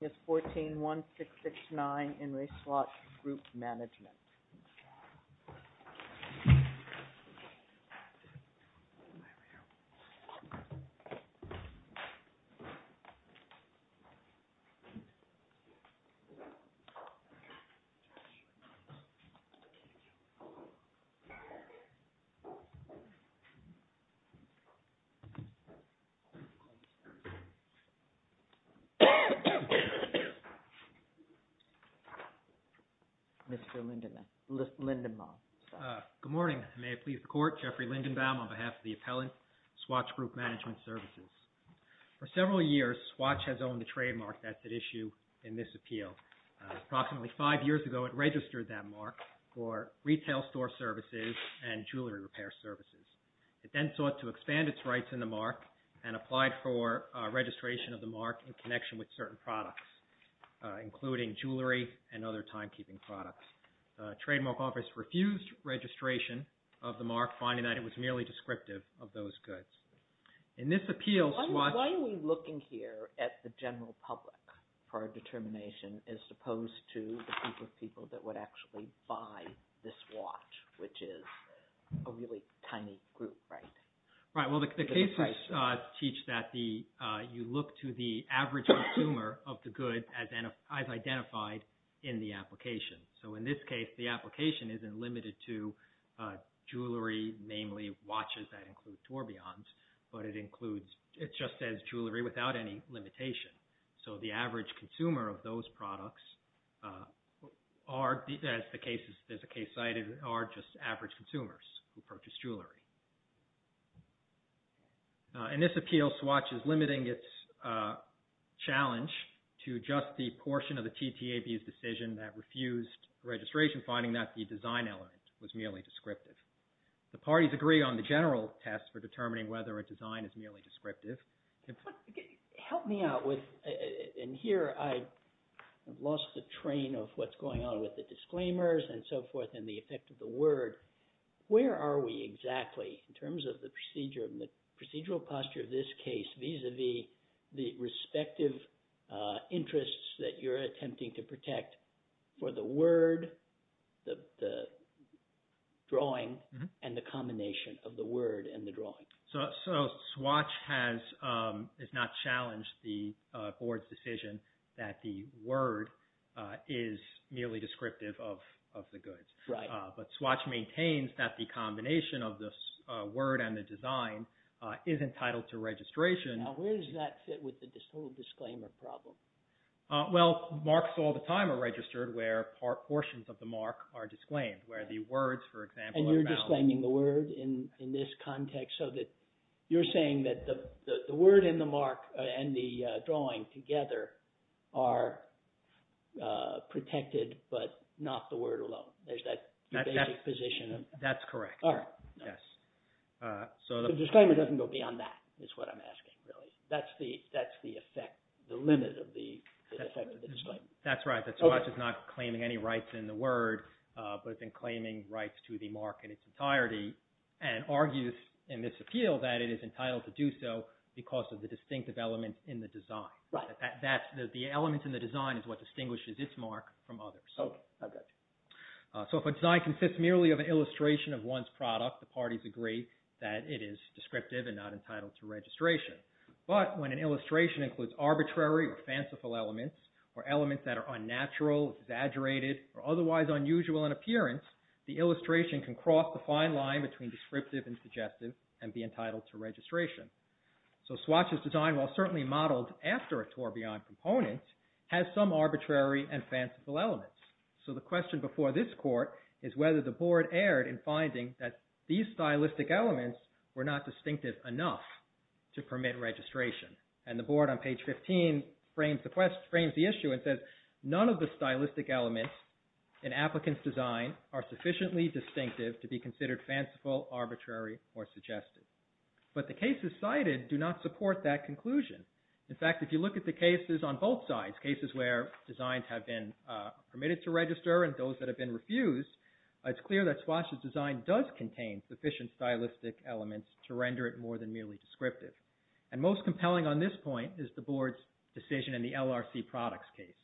It's 141669 in race lot group management. Mr. Lindenbaum. Good morning. May it please the court, Jeffrey Lindenbaum on behalf of the appellant, Swatch Group Management Services. For several years, Swatch has owned the trademark that's at issue in this appeal. Approximately five years ago, it registered that mark for retail store services and jewelry repair services. It then sought to expand its rights in the mark and applied for registration of the mark in connection with certain products, including jewelry and other timekeeping products. Trademark office refused registration of the mark, finding that it was merely descriptive of those goods. Why are we looking here at the general public for a determination, as opposed to the group of people that would actually buy this watch, which is a really tiny group, right? Right. Well, the cases teach that you look to the average consumer of the good as identified in the application. So, in this case, the application isn't limited to jewelry, namely watches that include tourbillons, but it includes, it just says jewelry without any limitation. So the average consumer of those products are, as the case is, there's a case cited, and are just average consumers who purchase jewelry. In this appeal, Swatch is limiting its challenge to just the portion of the TTAB's decision that refused registration, finding that the design element was merely descriptive. The parties agree on the general test for determining whether a design is merely descriptive. Help me out with, and here I've lost the train of what's going on with the disclaimers and so forth, and the effect of the word. Where are we exactly in terms of the procedural posture of this case, vis-a-vis the respective interests that you're attempting to protect for the word, the drawing, and the combination of the word and the drawing? So Swatch has, has not challenged the board's decision that the word is merely descriptive of the goods. Right. But Swatch maintains that the combination of the word and the design is entitled to registration. Now where does that fit with the total disclaimer problem? Well marks all the time are registered where portions of the mark are disclaimed, where the words, for example, are valid. And you're disclaiming the word in this context, so that you're saying that the word and the drawing together are protected, but not the word alone. There's that basic position of... That's correct. All right. Yes. So the... The disclaimer doesn't go beyond that, is what I'm asking, really. That's the, that's the effect, the limit of the, the effect of the disclaimer. That's right. That's right. So Swatch is not claiming any rights in the word, but has been claiming rights to the mark in its entirety, and argues in this appeal that it is entitled to do so because of the distinctive element in the design. Right. That, that's, the element in the design is what distinguishes its mark from others. Okay. I got you. So if a design consists merely of an illustration of one's product, the parties agree that it is descriptive and not entitled to registration. But when an illustration includes arbitrary or fanciful elements, or elements that are unnatural, exaggerated, or otherwise unusual in appearance, the illustration can cross the fine line between descriptive and suggestive and be entitled to registration. So Swatch's design, while certainly modeled after a Torbjörn component, has some arbitrary and fanciful elements. So the question before this Court is whether the Board erred in finding that these stylistic elements were not distinctive enough to permit registration. And the Board on page 15 frames the question, frames the issue and says, none of the stylistic elements in applicant's design are sufficiently distinctive to be considered fanciful, arbitrary, or suggestive. But the cases cited do not support that conclusion. In fact, if you look at the cases on both sides, cases where designs have been permitted to register and those that have been refused, it's clear that Swatch's design does contain sufficient stylistic elements to render it more than merely descriptive. And most compelling on this point is the Board's decision in the LRC products case,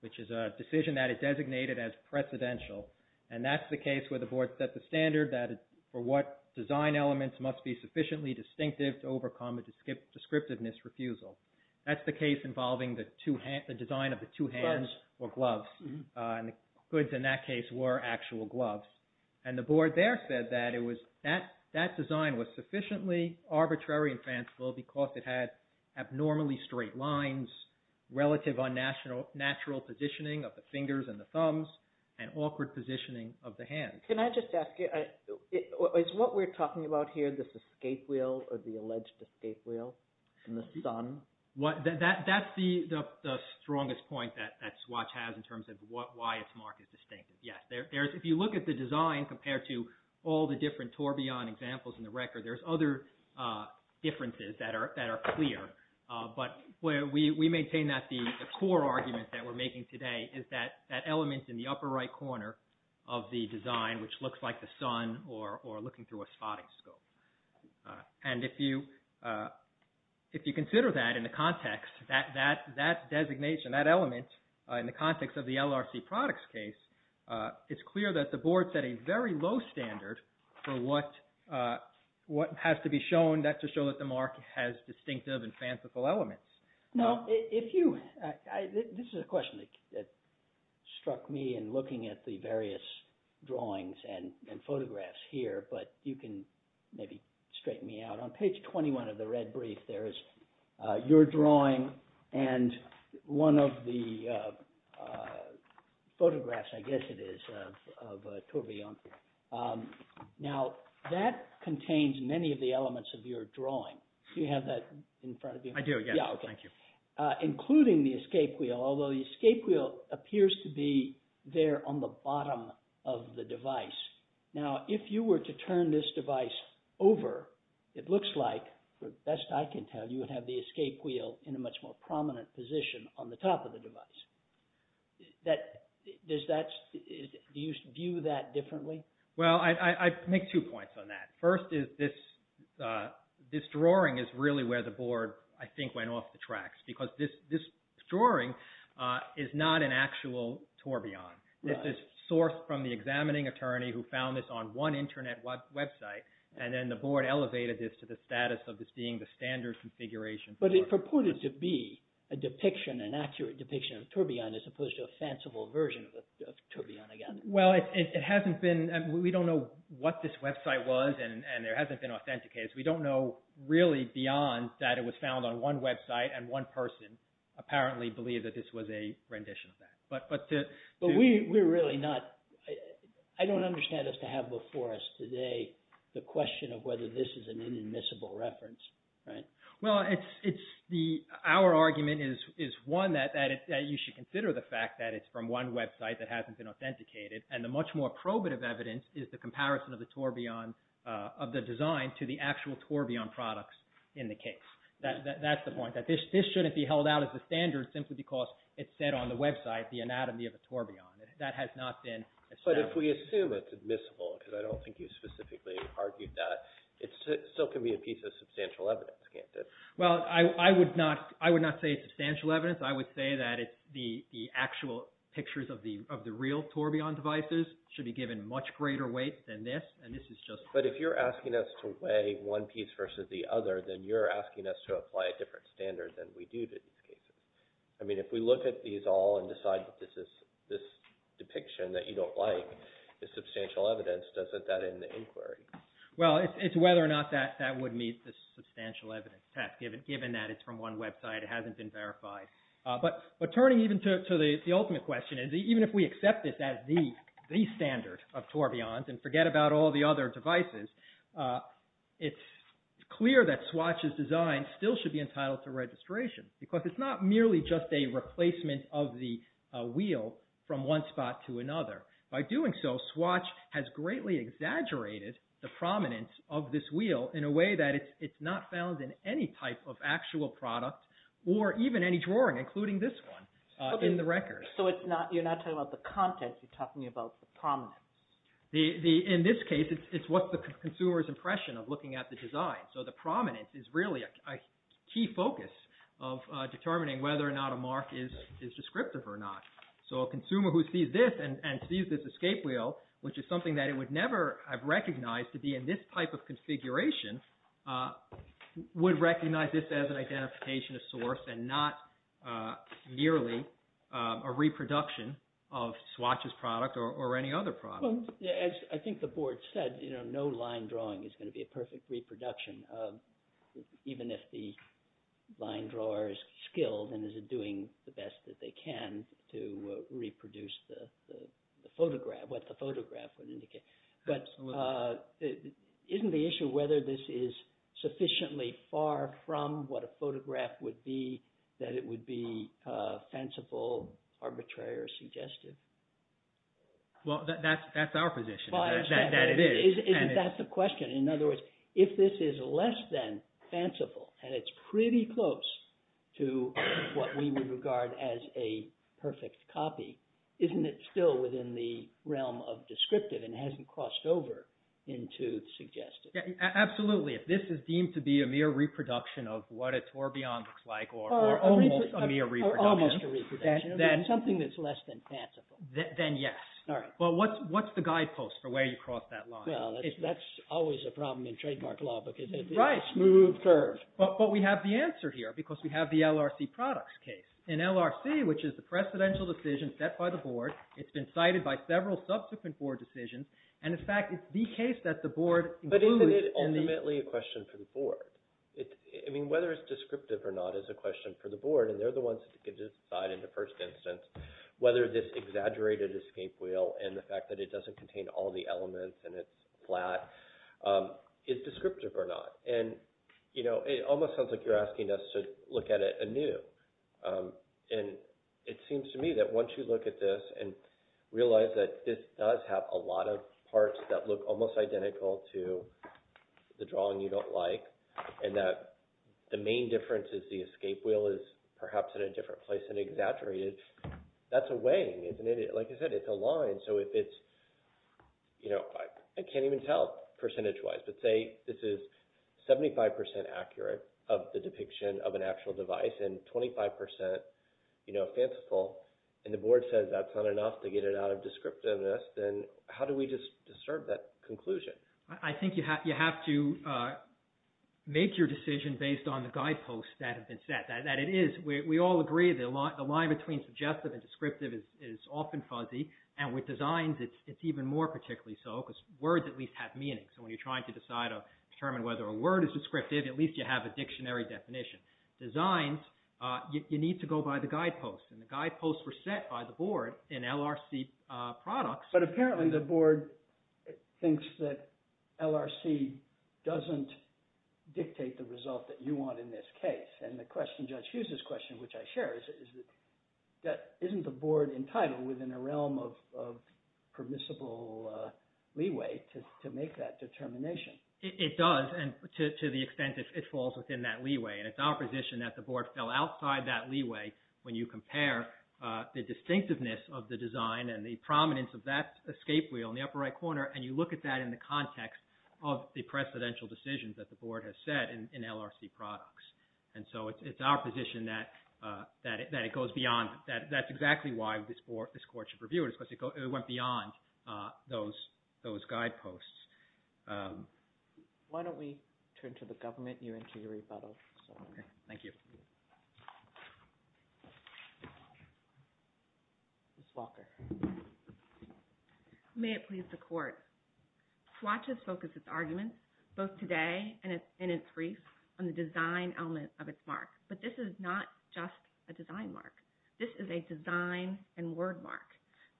which is a decision that is designated as precedential. And that's the case where the Board set the standard that for what design elements must be sufficiently distinctive to overcome a descriptiveness refusal. That's the case involving the design of the two hands or gloves, and the goods in that case were actual gloves. And the Board there said that it was, that design was sufficiently arbitrary and fanciful because it had abnormally straight lines, relative unnatural positioning of the fingers and the thumbs, and awkward positioning of the hands. Can I just ask you, is what we're talking about here this escape wheel or the alleged escape wheel in the sun? That's the strongest point that Swatch has in terms of why it's marked as distinctive. Yes, if you look at the design compared to all the different Torbjörn examples in the record, there's other differences that are clear. But we maintain that the core argument that we're making today is that that element in the upper right corner of the design, which looks like the sun or looking through a spotting scope. And if you consider that in the context, that designation, that element in the context of the LRC products case, it's clear that the Board set a very low standard for what has to be shown to show that the mark has distinctive and fanciful elements. Now, if you, this is a question that struck me in looking at the various drawings and photographs here, but you can maybe straighten me out. On page 21 of the red brief, there is your drawing and one of the photographs, I guess it is, of Torbjörn. Now that contains many of the elements of your drawing. Do you have that in front of you? I do, yes, thank you. Including the escape wheel, although the escape wheel appears to be there on the bottom of the device. Now, if you were to turn this device over, it looks like, for the best I can tell, you would have the escape wheel in a much more prominent position on the top of the device. Does that, do you view that differently? Well, I make two points on that. First is this drawing is really where the Board, I think, went off the tracks, because this drawing is not an actual Torbjörn. This is sourced from the examining attorney who found this on one internet website, and then the Board elevated this to the status of this being the standard configuration. But it purported to be a depiction, an accurate depiction of Torbjörn as opposed to a fanciful version of Torbjörn again. Well, it hasn't been, we don't know what this website was, and it hasn't been authenticated. We don't know really beyond that it was found on one website, and one person apparently believed that this was a rendition of that. But we're really not, I don't understand us to have before us today the question of whether this is an inadmissible reference, right? Well, it's the, our argument is one that you should consider the fact that it's from one website, it's authenticated, and the much more probative evidence is the comparison of the Torbjörn, of the design to the actual Torbjörn products in the case. That's the point, that this shouldn't be held out as the standard simply because it's said on the website the anatomy of a Torbjörn. That has not been established. But if we assume it's admissible, because I don't think you specifically argued that, it still can be a piece of substantial evidence, can't it? Well, I would not say it's substantial evidence. I would say that it's the actual pictures of the real Torbjörn devices should be given much greater weight than this, and this is just... But if you're asking us to weigh one piece versus the other, then you're asking us to apply a different standard than we do to these cases. I mean, if we look at these all and decide that this is, this depiction that you don't like is substantial evidence, doesn't that end the inquiry? Well, it's whether or not that would meet the substantial evidence test, given that it's from one website, it hasn't been verified. But turning even to the ultimate question, is even if we accept this as the standard of Torbjörns and forget about all the other devices, it's clear that Swatch's design still should be entitled to registration, because it's not merely just a replacement of the wheel from one spot to another. By doing so, Swatch has greatly exaggerated the prominence of this wheel in a way that it's not found in any type of actual product, or even any drawing, including this one, in the record. So you're not talking about the content, you're talking about the prominence. In this case, it's what's the consumer's impression of looking at the design. So the prominence is really a key focus of determining whether or not a mark is descriptive or not. So a consumer who sees this and sees this escape wheel, which is something that it would never have recognized to be in this type of configuration, would recognize this as an identification of source and not merely a reproduction of Swatch's product or any other product. Well, as I think the board said, no line drawing is going to be a perfect reproduction, even if the line drawer is skilled and is doing the best that they can to reproduce the photograph, what the photograph would indicate. But isn't the issue whether this is sufficiently far from what a photograph would be that it would be fanciful, arbitrary, or suggestive? Well, that's our position, that it is. That's the question. In other words, if this is less than fanciful and it's pretty close to what we would regard as a perfect copy, isn't it still within the realm of descriptive and hasn't crossed over into the suggestive? Absolutely. If this is deemed to be a mere reproduction of what a tourbillon looks like or almost a mere reproduction. Or almost a reproduction, something that's less than fanciful. Then yes. All right. But what's the guidepost for where you cross that line? Well, that's always a problem in trademark law because it's a smooth curve. But we have the answer here because we have the LRC products case. An LRC, which is the precedential decision set by the board. It's been cited by several subsequent board decisions. And in fact, it's the case that the board includes. But isn't it ultimately a question for the board? Whether it's descriptive or not is a question for the board. And they're the ones that can decide in the first instance whether this exaggerated escape wheel and the fact that it doesn't contain all the elements and it's flat is descriptive or not. And it almost sounds like you're asking us to look at it anew. And it seems to me that once you look at this and realize that this does have a lot of parts that look almost identical to the drawing you don't like and that the main difference is the escape wheel is perhaps in a different place than exaggerated. That's a weighing, isn't it? Like I said, it's a line. So if it's, you know, I can't even tell percentage wise. But say this is 75% accurate of the depiction of an actual device and 25%, you know, fanciful. And the board says that's not enough to get it out of descriptiveness. Then how do we just discern that conclusion? I think you have to make your decision based on the guideposts that have been set. That it is, we all agree, the line between suggestive and descriptive is often fuzzy. And with designs, it's even more particularly so because words at least have meaning. So when you're trying to decide or determine whether a word is descriptive, at least you have a dictionary definition. Designs, you need to go by the guideposts. And the guideposts were set by the board in LRC products. But apparently the board thinks that LRC doesn't dictate the result that you want in this case. And the question, Judge Hughes's question, which I share is that isn't the board entitled within a realm of permissible leeway to make that determination? It does. And to the extent it falls within that leeway. And it's our position that the board fell outside that leeway when you compare the distinctiveness of the design and the prominence of that escape wheel in the upper right corner. And you look at that in the context of the precedential decisions that the board has set in LRC products. And so it's our position that it goes beyond. That's exactly why this court should review it. It went beyond those guideposts. Why don't we turn to the government and you enter your rebuttal. Thank you. Ms. Walker. May it please the Court. Swatch has focused its arguments both today and in its brief on the design element of its mark. But this is not just a design mark. This is a design and word mark.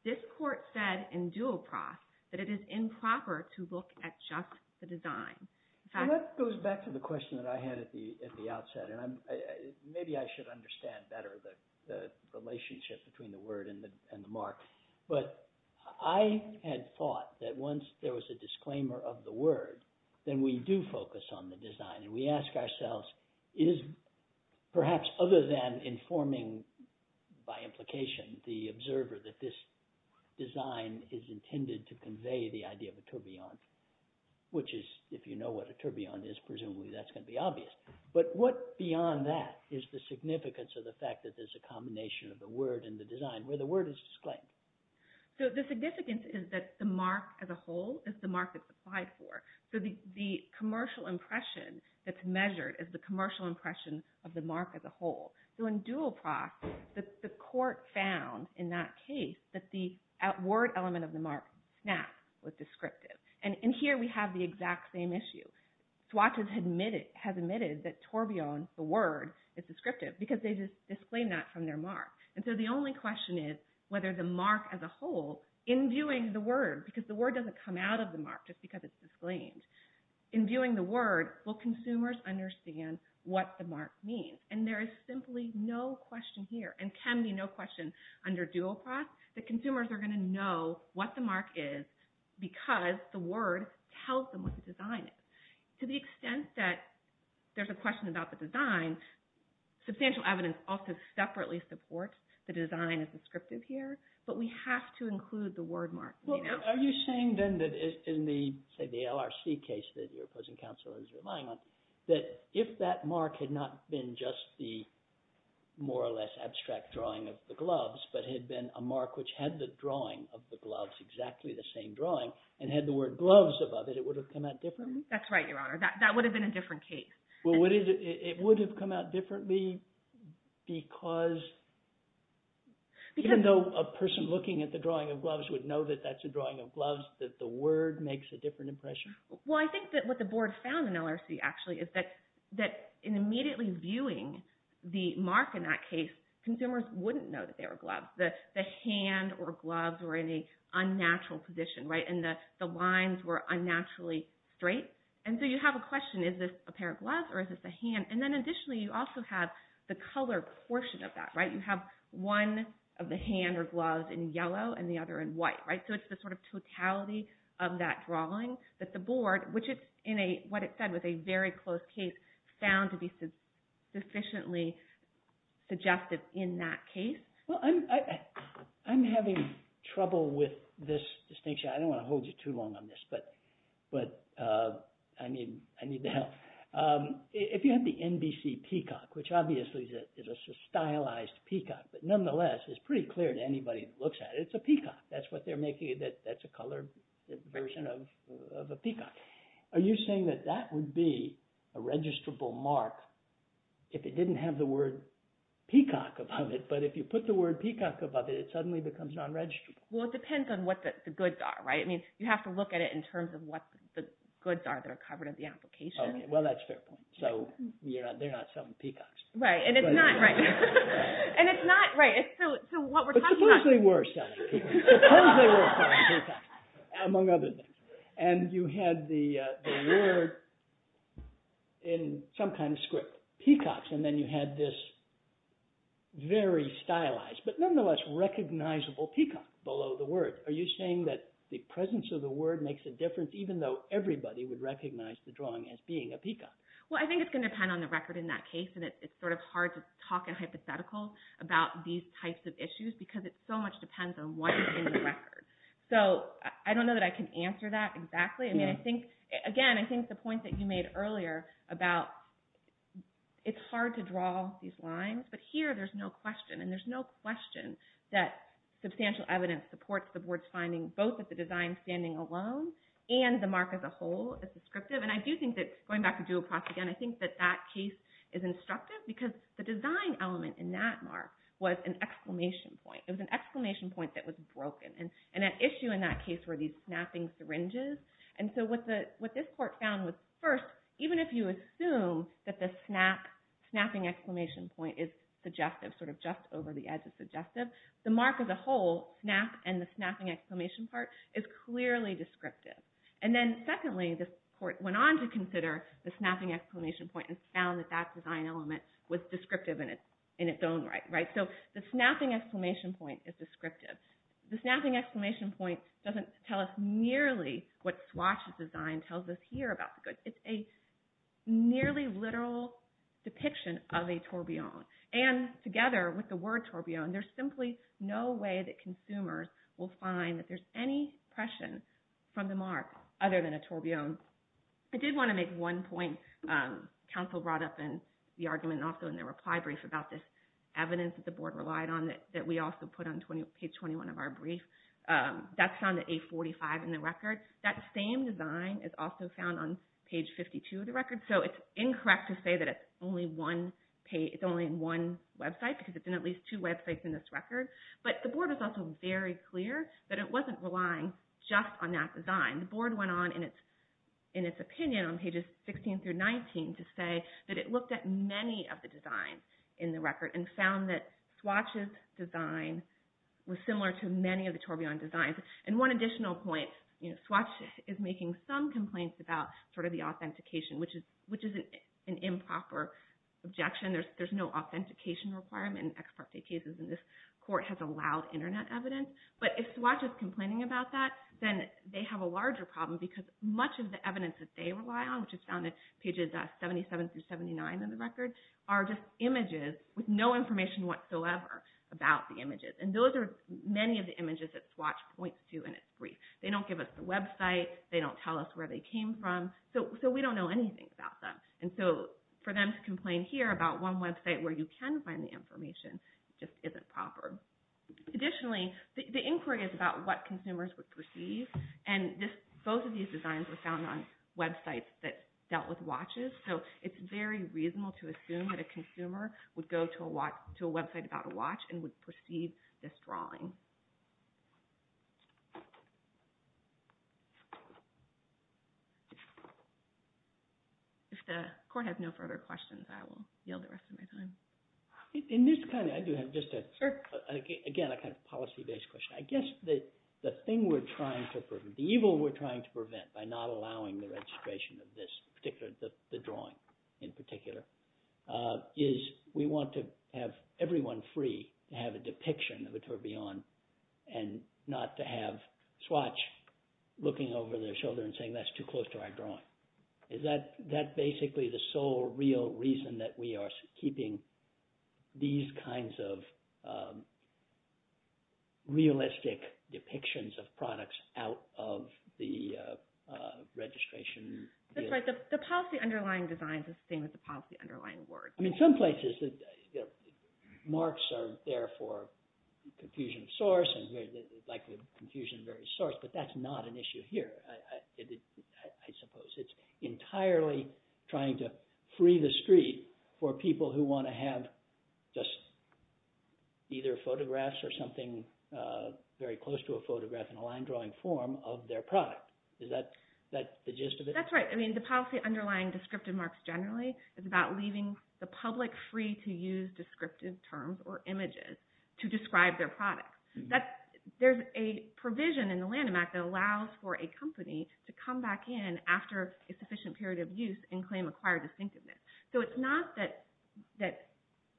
This court said in Duoprof that it is improper to look at just the design. And that goes back to the question that I had at the outset. And maybe I should understand better the relationship between the word and the mark. But I had thought that once there was a disclaimer of the word, then we do focus on the design. And we ask ourselves, is perhaps other than informing by implication the observer that this design is intended to convey the idea of a tourbillon, which is if you know what a tourbillon is, presumably that's going to be obvious. But what beyond that is the significance of the fact that there's a combination of the word and the design where the word is disclaimed? So the significance is that the mark as a whole is the mark it's applied for. So the commercial impression that's measured is the commercial impression of the mark as a whole. So in Duoprof, the court found in that case that the word element of the mark, SNAP, was descriptive. And here we have the exact same issue. Swatch has admitted that tourbillon, the word, is descriptive because they just disclaimed that from their mark. And so the only question is whether the mark as a whole, in viewing the word, because the In viewing the word, will consumers understand what the mark means? And there is simply no question here, and can be no question under Duoprof, that consumers are going to know what the mark is because the word tells them what the design is. To the extent that there's a question about the design, substantial evidence also separately supports the design as descriptive here. But we have to include the word mark. Are you saying then that in the LRC case that your opposing counsel is relying on, that if that mark had not been just the more or less abstract drawing of the gloves, but had been a mark which had the drawing of the gloves, exactly the same drawing, and had the word gloves above it, it would have come out differently? That's right, Your Honor. That would have been a different case. Well, it would have come out differently because even though a person looking at the drawing of gloves would know that that's a drawing of gloves, that the word makes a different impression? Well, I think that what the board found in LRC actually is that in immediately viewing the mark in that case, consumers wouldn't know that they were gloves. That the hand or gloves were in a unnatural position, right? And that the lines were unnaturally straight. And so you have a question, is this a pair of gloves or is this a hand? And then additionally, you also have the color portion of that, right? You have one of the hand or gloves in yellow and the other in white, right? So it's the sort of totality of that drawing that the board, which it's in what it said was a very close case, found to be sufficiently suggestive in that case. Well, I'm having trouble with this distinction. I don't want to hold you too long on this, but I need the help. If you have the NBC peacock, which obviously is a stylized peacock, but nonetheless is pretty clear to anybody that looks at it, it's a peacock. That's what they're making it, that's a colored version of a peacock. Are you saying that that would be a registrable mark if it didn't have the word peacock above it, but if you put the word peacock above it, it suddenly becomes non-registrable? Well, it depends on what the goods are, right? I mean, you have to look at it in terms of what the goods are that are covered in the application. Okay, well that's a fair point, so they're not selling peacocks. Right, and it's not, right, and it's not, right, so what we're talking about- But suppose they were selling peacocks, suppose they were selling peacocks, among other things, and you had the word in some kind of script, peacocks, and then you had this very stylized, but nonetheless recognizable peacock below the word. Are you saying that the presence of the word makes a difference even though everybody would Well, I think it's going to depend on the record in that case, and it's sort of hard to talk in hypotheticals about these types of issues because it so much depends on what is in the record. So, I don't know that I can answer that exactly. I mean, I think, again, I think the point that you made earlier about it's hard to draw these lines, but here there's no question, and there's no question that substantial evidence supports the board's finding both that the design standing alone and the mark as a whole is descriptive, and I do think that, going back to Duoprof again, I think that that case is instructive because the design element in that mark was an exclamation point. It was an exclamation point that was broken, and an issue in that case were these snapping syringes, and so what this court found was, first, even if you assume that the snap, snapping exclamation point is suggestive, sort of just over the edge of suggestive, the mark as a whole, snap and the snapping exclamation part, is clearly descriptive. And then, secondly, the court went on to consider the snapping exclamation point and found that that design element was descriptive in its own right, right? So, the snapping exclamation point is descriptive. The snapping exclamation point doesn't tell us nearly what Swatch's design tells us here about the goods. It's a nearly literal depiction of a tourbillon, and together with the word tourbillon, there's simply no way that consumers will find that there's any impression from the mark other than a tourbillon. I did want to make one point. Counsel brought up in the argument, and also in the reply brief, about this evidence that the board relied on that we also put on page 21 of our brief. That's found at 845 in the record. That same design is also found on page 52 of the record, so it's incorrect to say that it's only in one website, because it's in at least two websites in this record. But the board was also very clear that it wasn't relying just on that design. The board went on in its opinion on pages 16 through 19 to say that it looked at many of the designs in the record and found that Swatch's design was similar to many of the tourbillon designs. And one additional point, Swatch is making some complaints about sort of the authentication, which is an improper objection. There's no authentication requirement in ex parte cases, and this court has allowed internet evidence. But if Swatch is complaining about that, then they have a larger problem, because much of the evidence that they rely on, which is found at pages 77 through 79 of the record, are just images with no information whatsoever about the images. And those are many of the images that Swatch points to in its brief. They don't give us the website. They don't tell us where they came from. So we don't know anything about them. And so for them to complain here about one website where you can find the information just isn't proper. Additionally, the inquiry is about what consumers would perceive. And both of these designs were found on websites that dealt with watches. So it's very reasonable to assume that a consumer would go to a website about a watch and would perceive this drawing. If the court has no further questions, I will yield the rest of my time. In this kind of, I do have just a, again, a kind of policy-based question. I guess that the thing we're trying to prevent, the evil we're trying to prevent by not allowing the registration of this particular, the drawing in particular, is we want to have everyone free to have a depiction of a tourbillon and not to have Swatch looking over their shoulder and saying, that's too close to our drawing. Is that basically the sole real reason that we are keeping these kinds of realistic depictions of products out of the registration? That's right. The policy underlying design is the same as the policy underlying word. I mean, some places, marks are there for confusion of source and confusion of various source, but that's not an issue here, I suppose. It's entirely trying to free the street for people who want to have just either photographs or something very close to a photograph in a line-drawing form of their product. Is that the gist of it? That's right. I mean, the policy underlying descriptive marks generally is about leaving the public free to use descriptive terms or images to describe their product. There's a provision in the Lanham Act that allows for a company to come back in after a sufficient period of use and claim acquired distinctiveness. So it's not that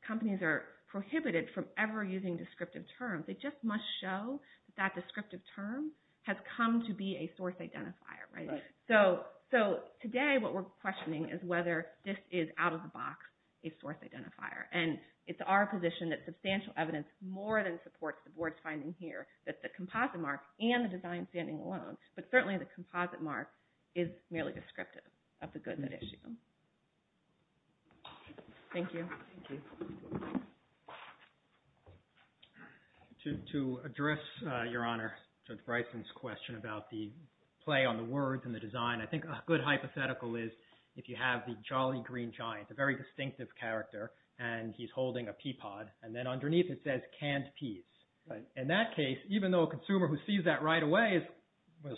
companies are prohibited from ever using descriptive terms. They just must show that that descriptive term has come to be a source identifier. So today, what we're questioning is whether this is, out of the box, a source identifier. And it's our position that substantial evidence more than supports the board's finding here that the composite mark and the design standing alone, but certainly the composite mark, is merely descriptive of the good that issue. Thank you. To address, Your Honor, Judge Bryson's question about the play on the words and the design, I think a good hypothetical is if you have the jolly green giant, a very distinctive character, and he's holding a peapod, and then underneath it says canned peas. In that case, even though a consumer who sees that right away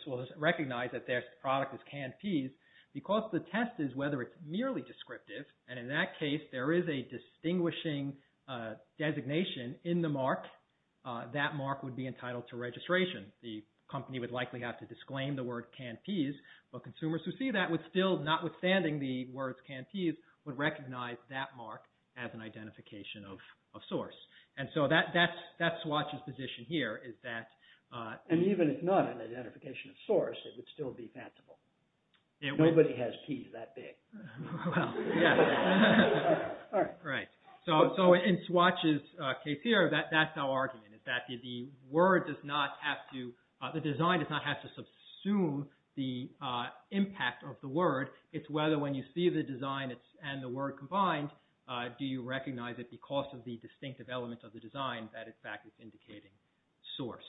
will recognize that their product is canned peas, because the test is whether it's merely descriptive, and in that case there is a distinguishing designation in the mark, that mark would be entitled to registration. The company would likely have to disclaim the word canned peas, but consumers who see notwithstanding the words canned peas would recognize that mark as an identification of source. And so that's Swatch's position here. And even if not an identification of source, it would still be fashionable. Nobody has peas that big. Right. So in Swatch's case here, that's our argument, is that the word does not have to, the design does not have to subsume the impact of the word. It's whether when you see the design and the word combined, do you recognize it because of the distinctive element of the design that in fact is indicating source.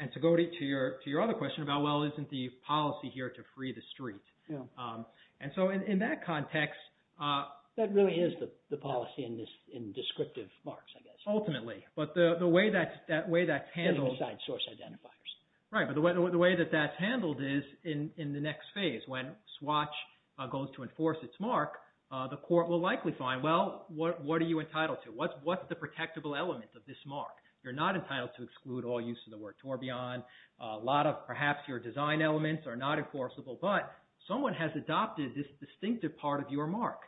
And to go to your other question about, well, isn't the policy here to free the street? And so in that context... That really is the policy in descriptive marks, I guess. Ultimately. But the way that's handled... Right. But the way that that's handled is in the next phase when Swatch goes to enforce its mark, the court will likely find, well, what are you entitled to? What's the protectable element of this mark? You're not entitled to exclude all use of the word tourbillon. A lot of perhaps your design elements are not enforceable, but someone has adopted this distinctive part of your mark,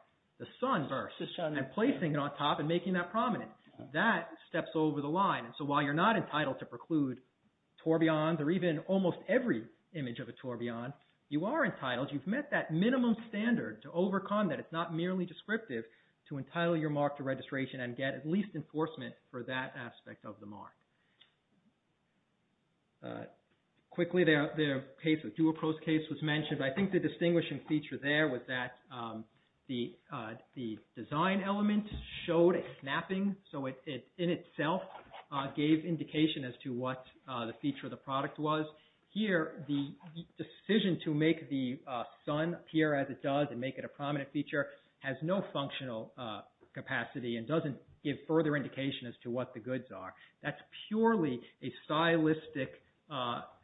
the sunburst, and placing it on top and making that prominent. That steps over the line. So while you're not entitled to preclude tourbillons or even almost every image of a tourbillon, you are entitled. You've met that minimum standard to overcome that. It's not merely descriptive to entitle your mark to registration and get at least enforcement for that aspect of the mark. Quickly, their case, the Duopro's case was mentioned. I think the distinguishing feature there was that the design element showed a snapping. So it in itself gave indication as to what the feature of the product was. Here, the decision to make the sun appear as it does and make it a prominent feature has no functional capacity and doesn't give further indication as to what the goods are. That's purely a stylistic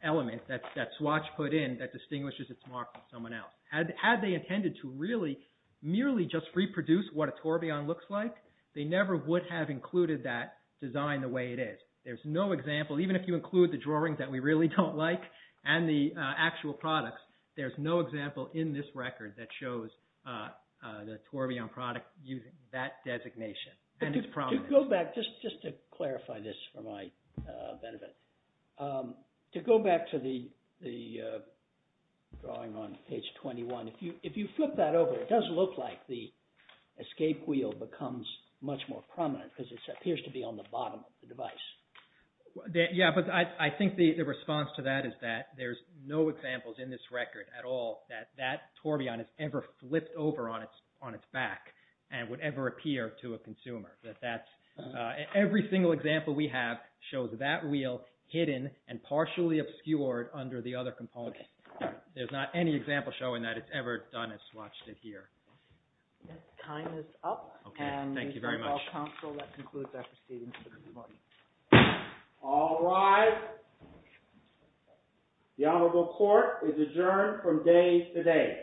element that Swatch put in that distinguishes its mark from someone else. Had they intended to really merely just reproduce what a tourbillon looks like, they never would have included that design the way it is. There's no example, even if you include the drawings that we really don't like and the actual products, there's no example in this record that shows the tourbillon product using that designation and its prominence. To go back, just to clarify this for my benefit, to go back to the drawing on page 21, if you like, because it appears to be on the bottom of the device. Yeah, but I think the response to that is that there's no examples in this record at all that that tourbillon has ever flipped over on its back and would ever appear to a consumer. Every single example we have shows that wheel hidden and partially obscured under the other components. There's not any example showing that it's ever done as Swatch did here. Time is up. Okay, thank you very much. And we shall call council. That concludes our proceedings for this morning. All rise. The Honorable Court is adjourned from day to day.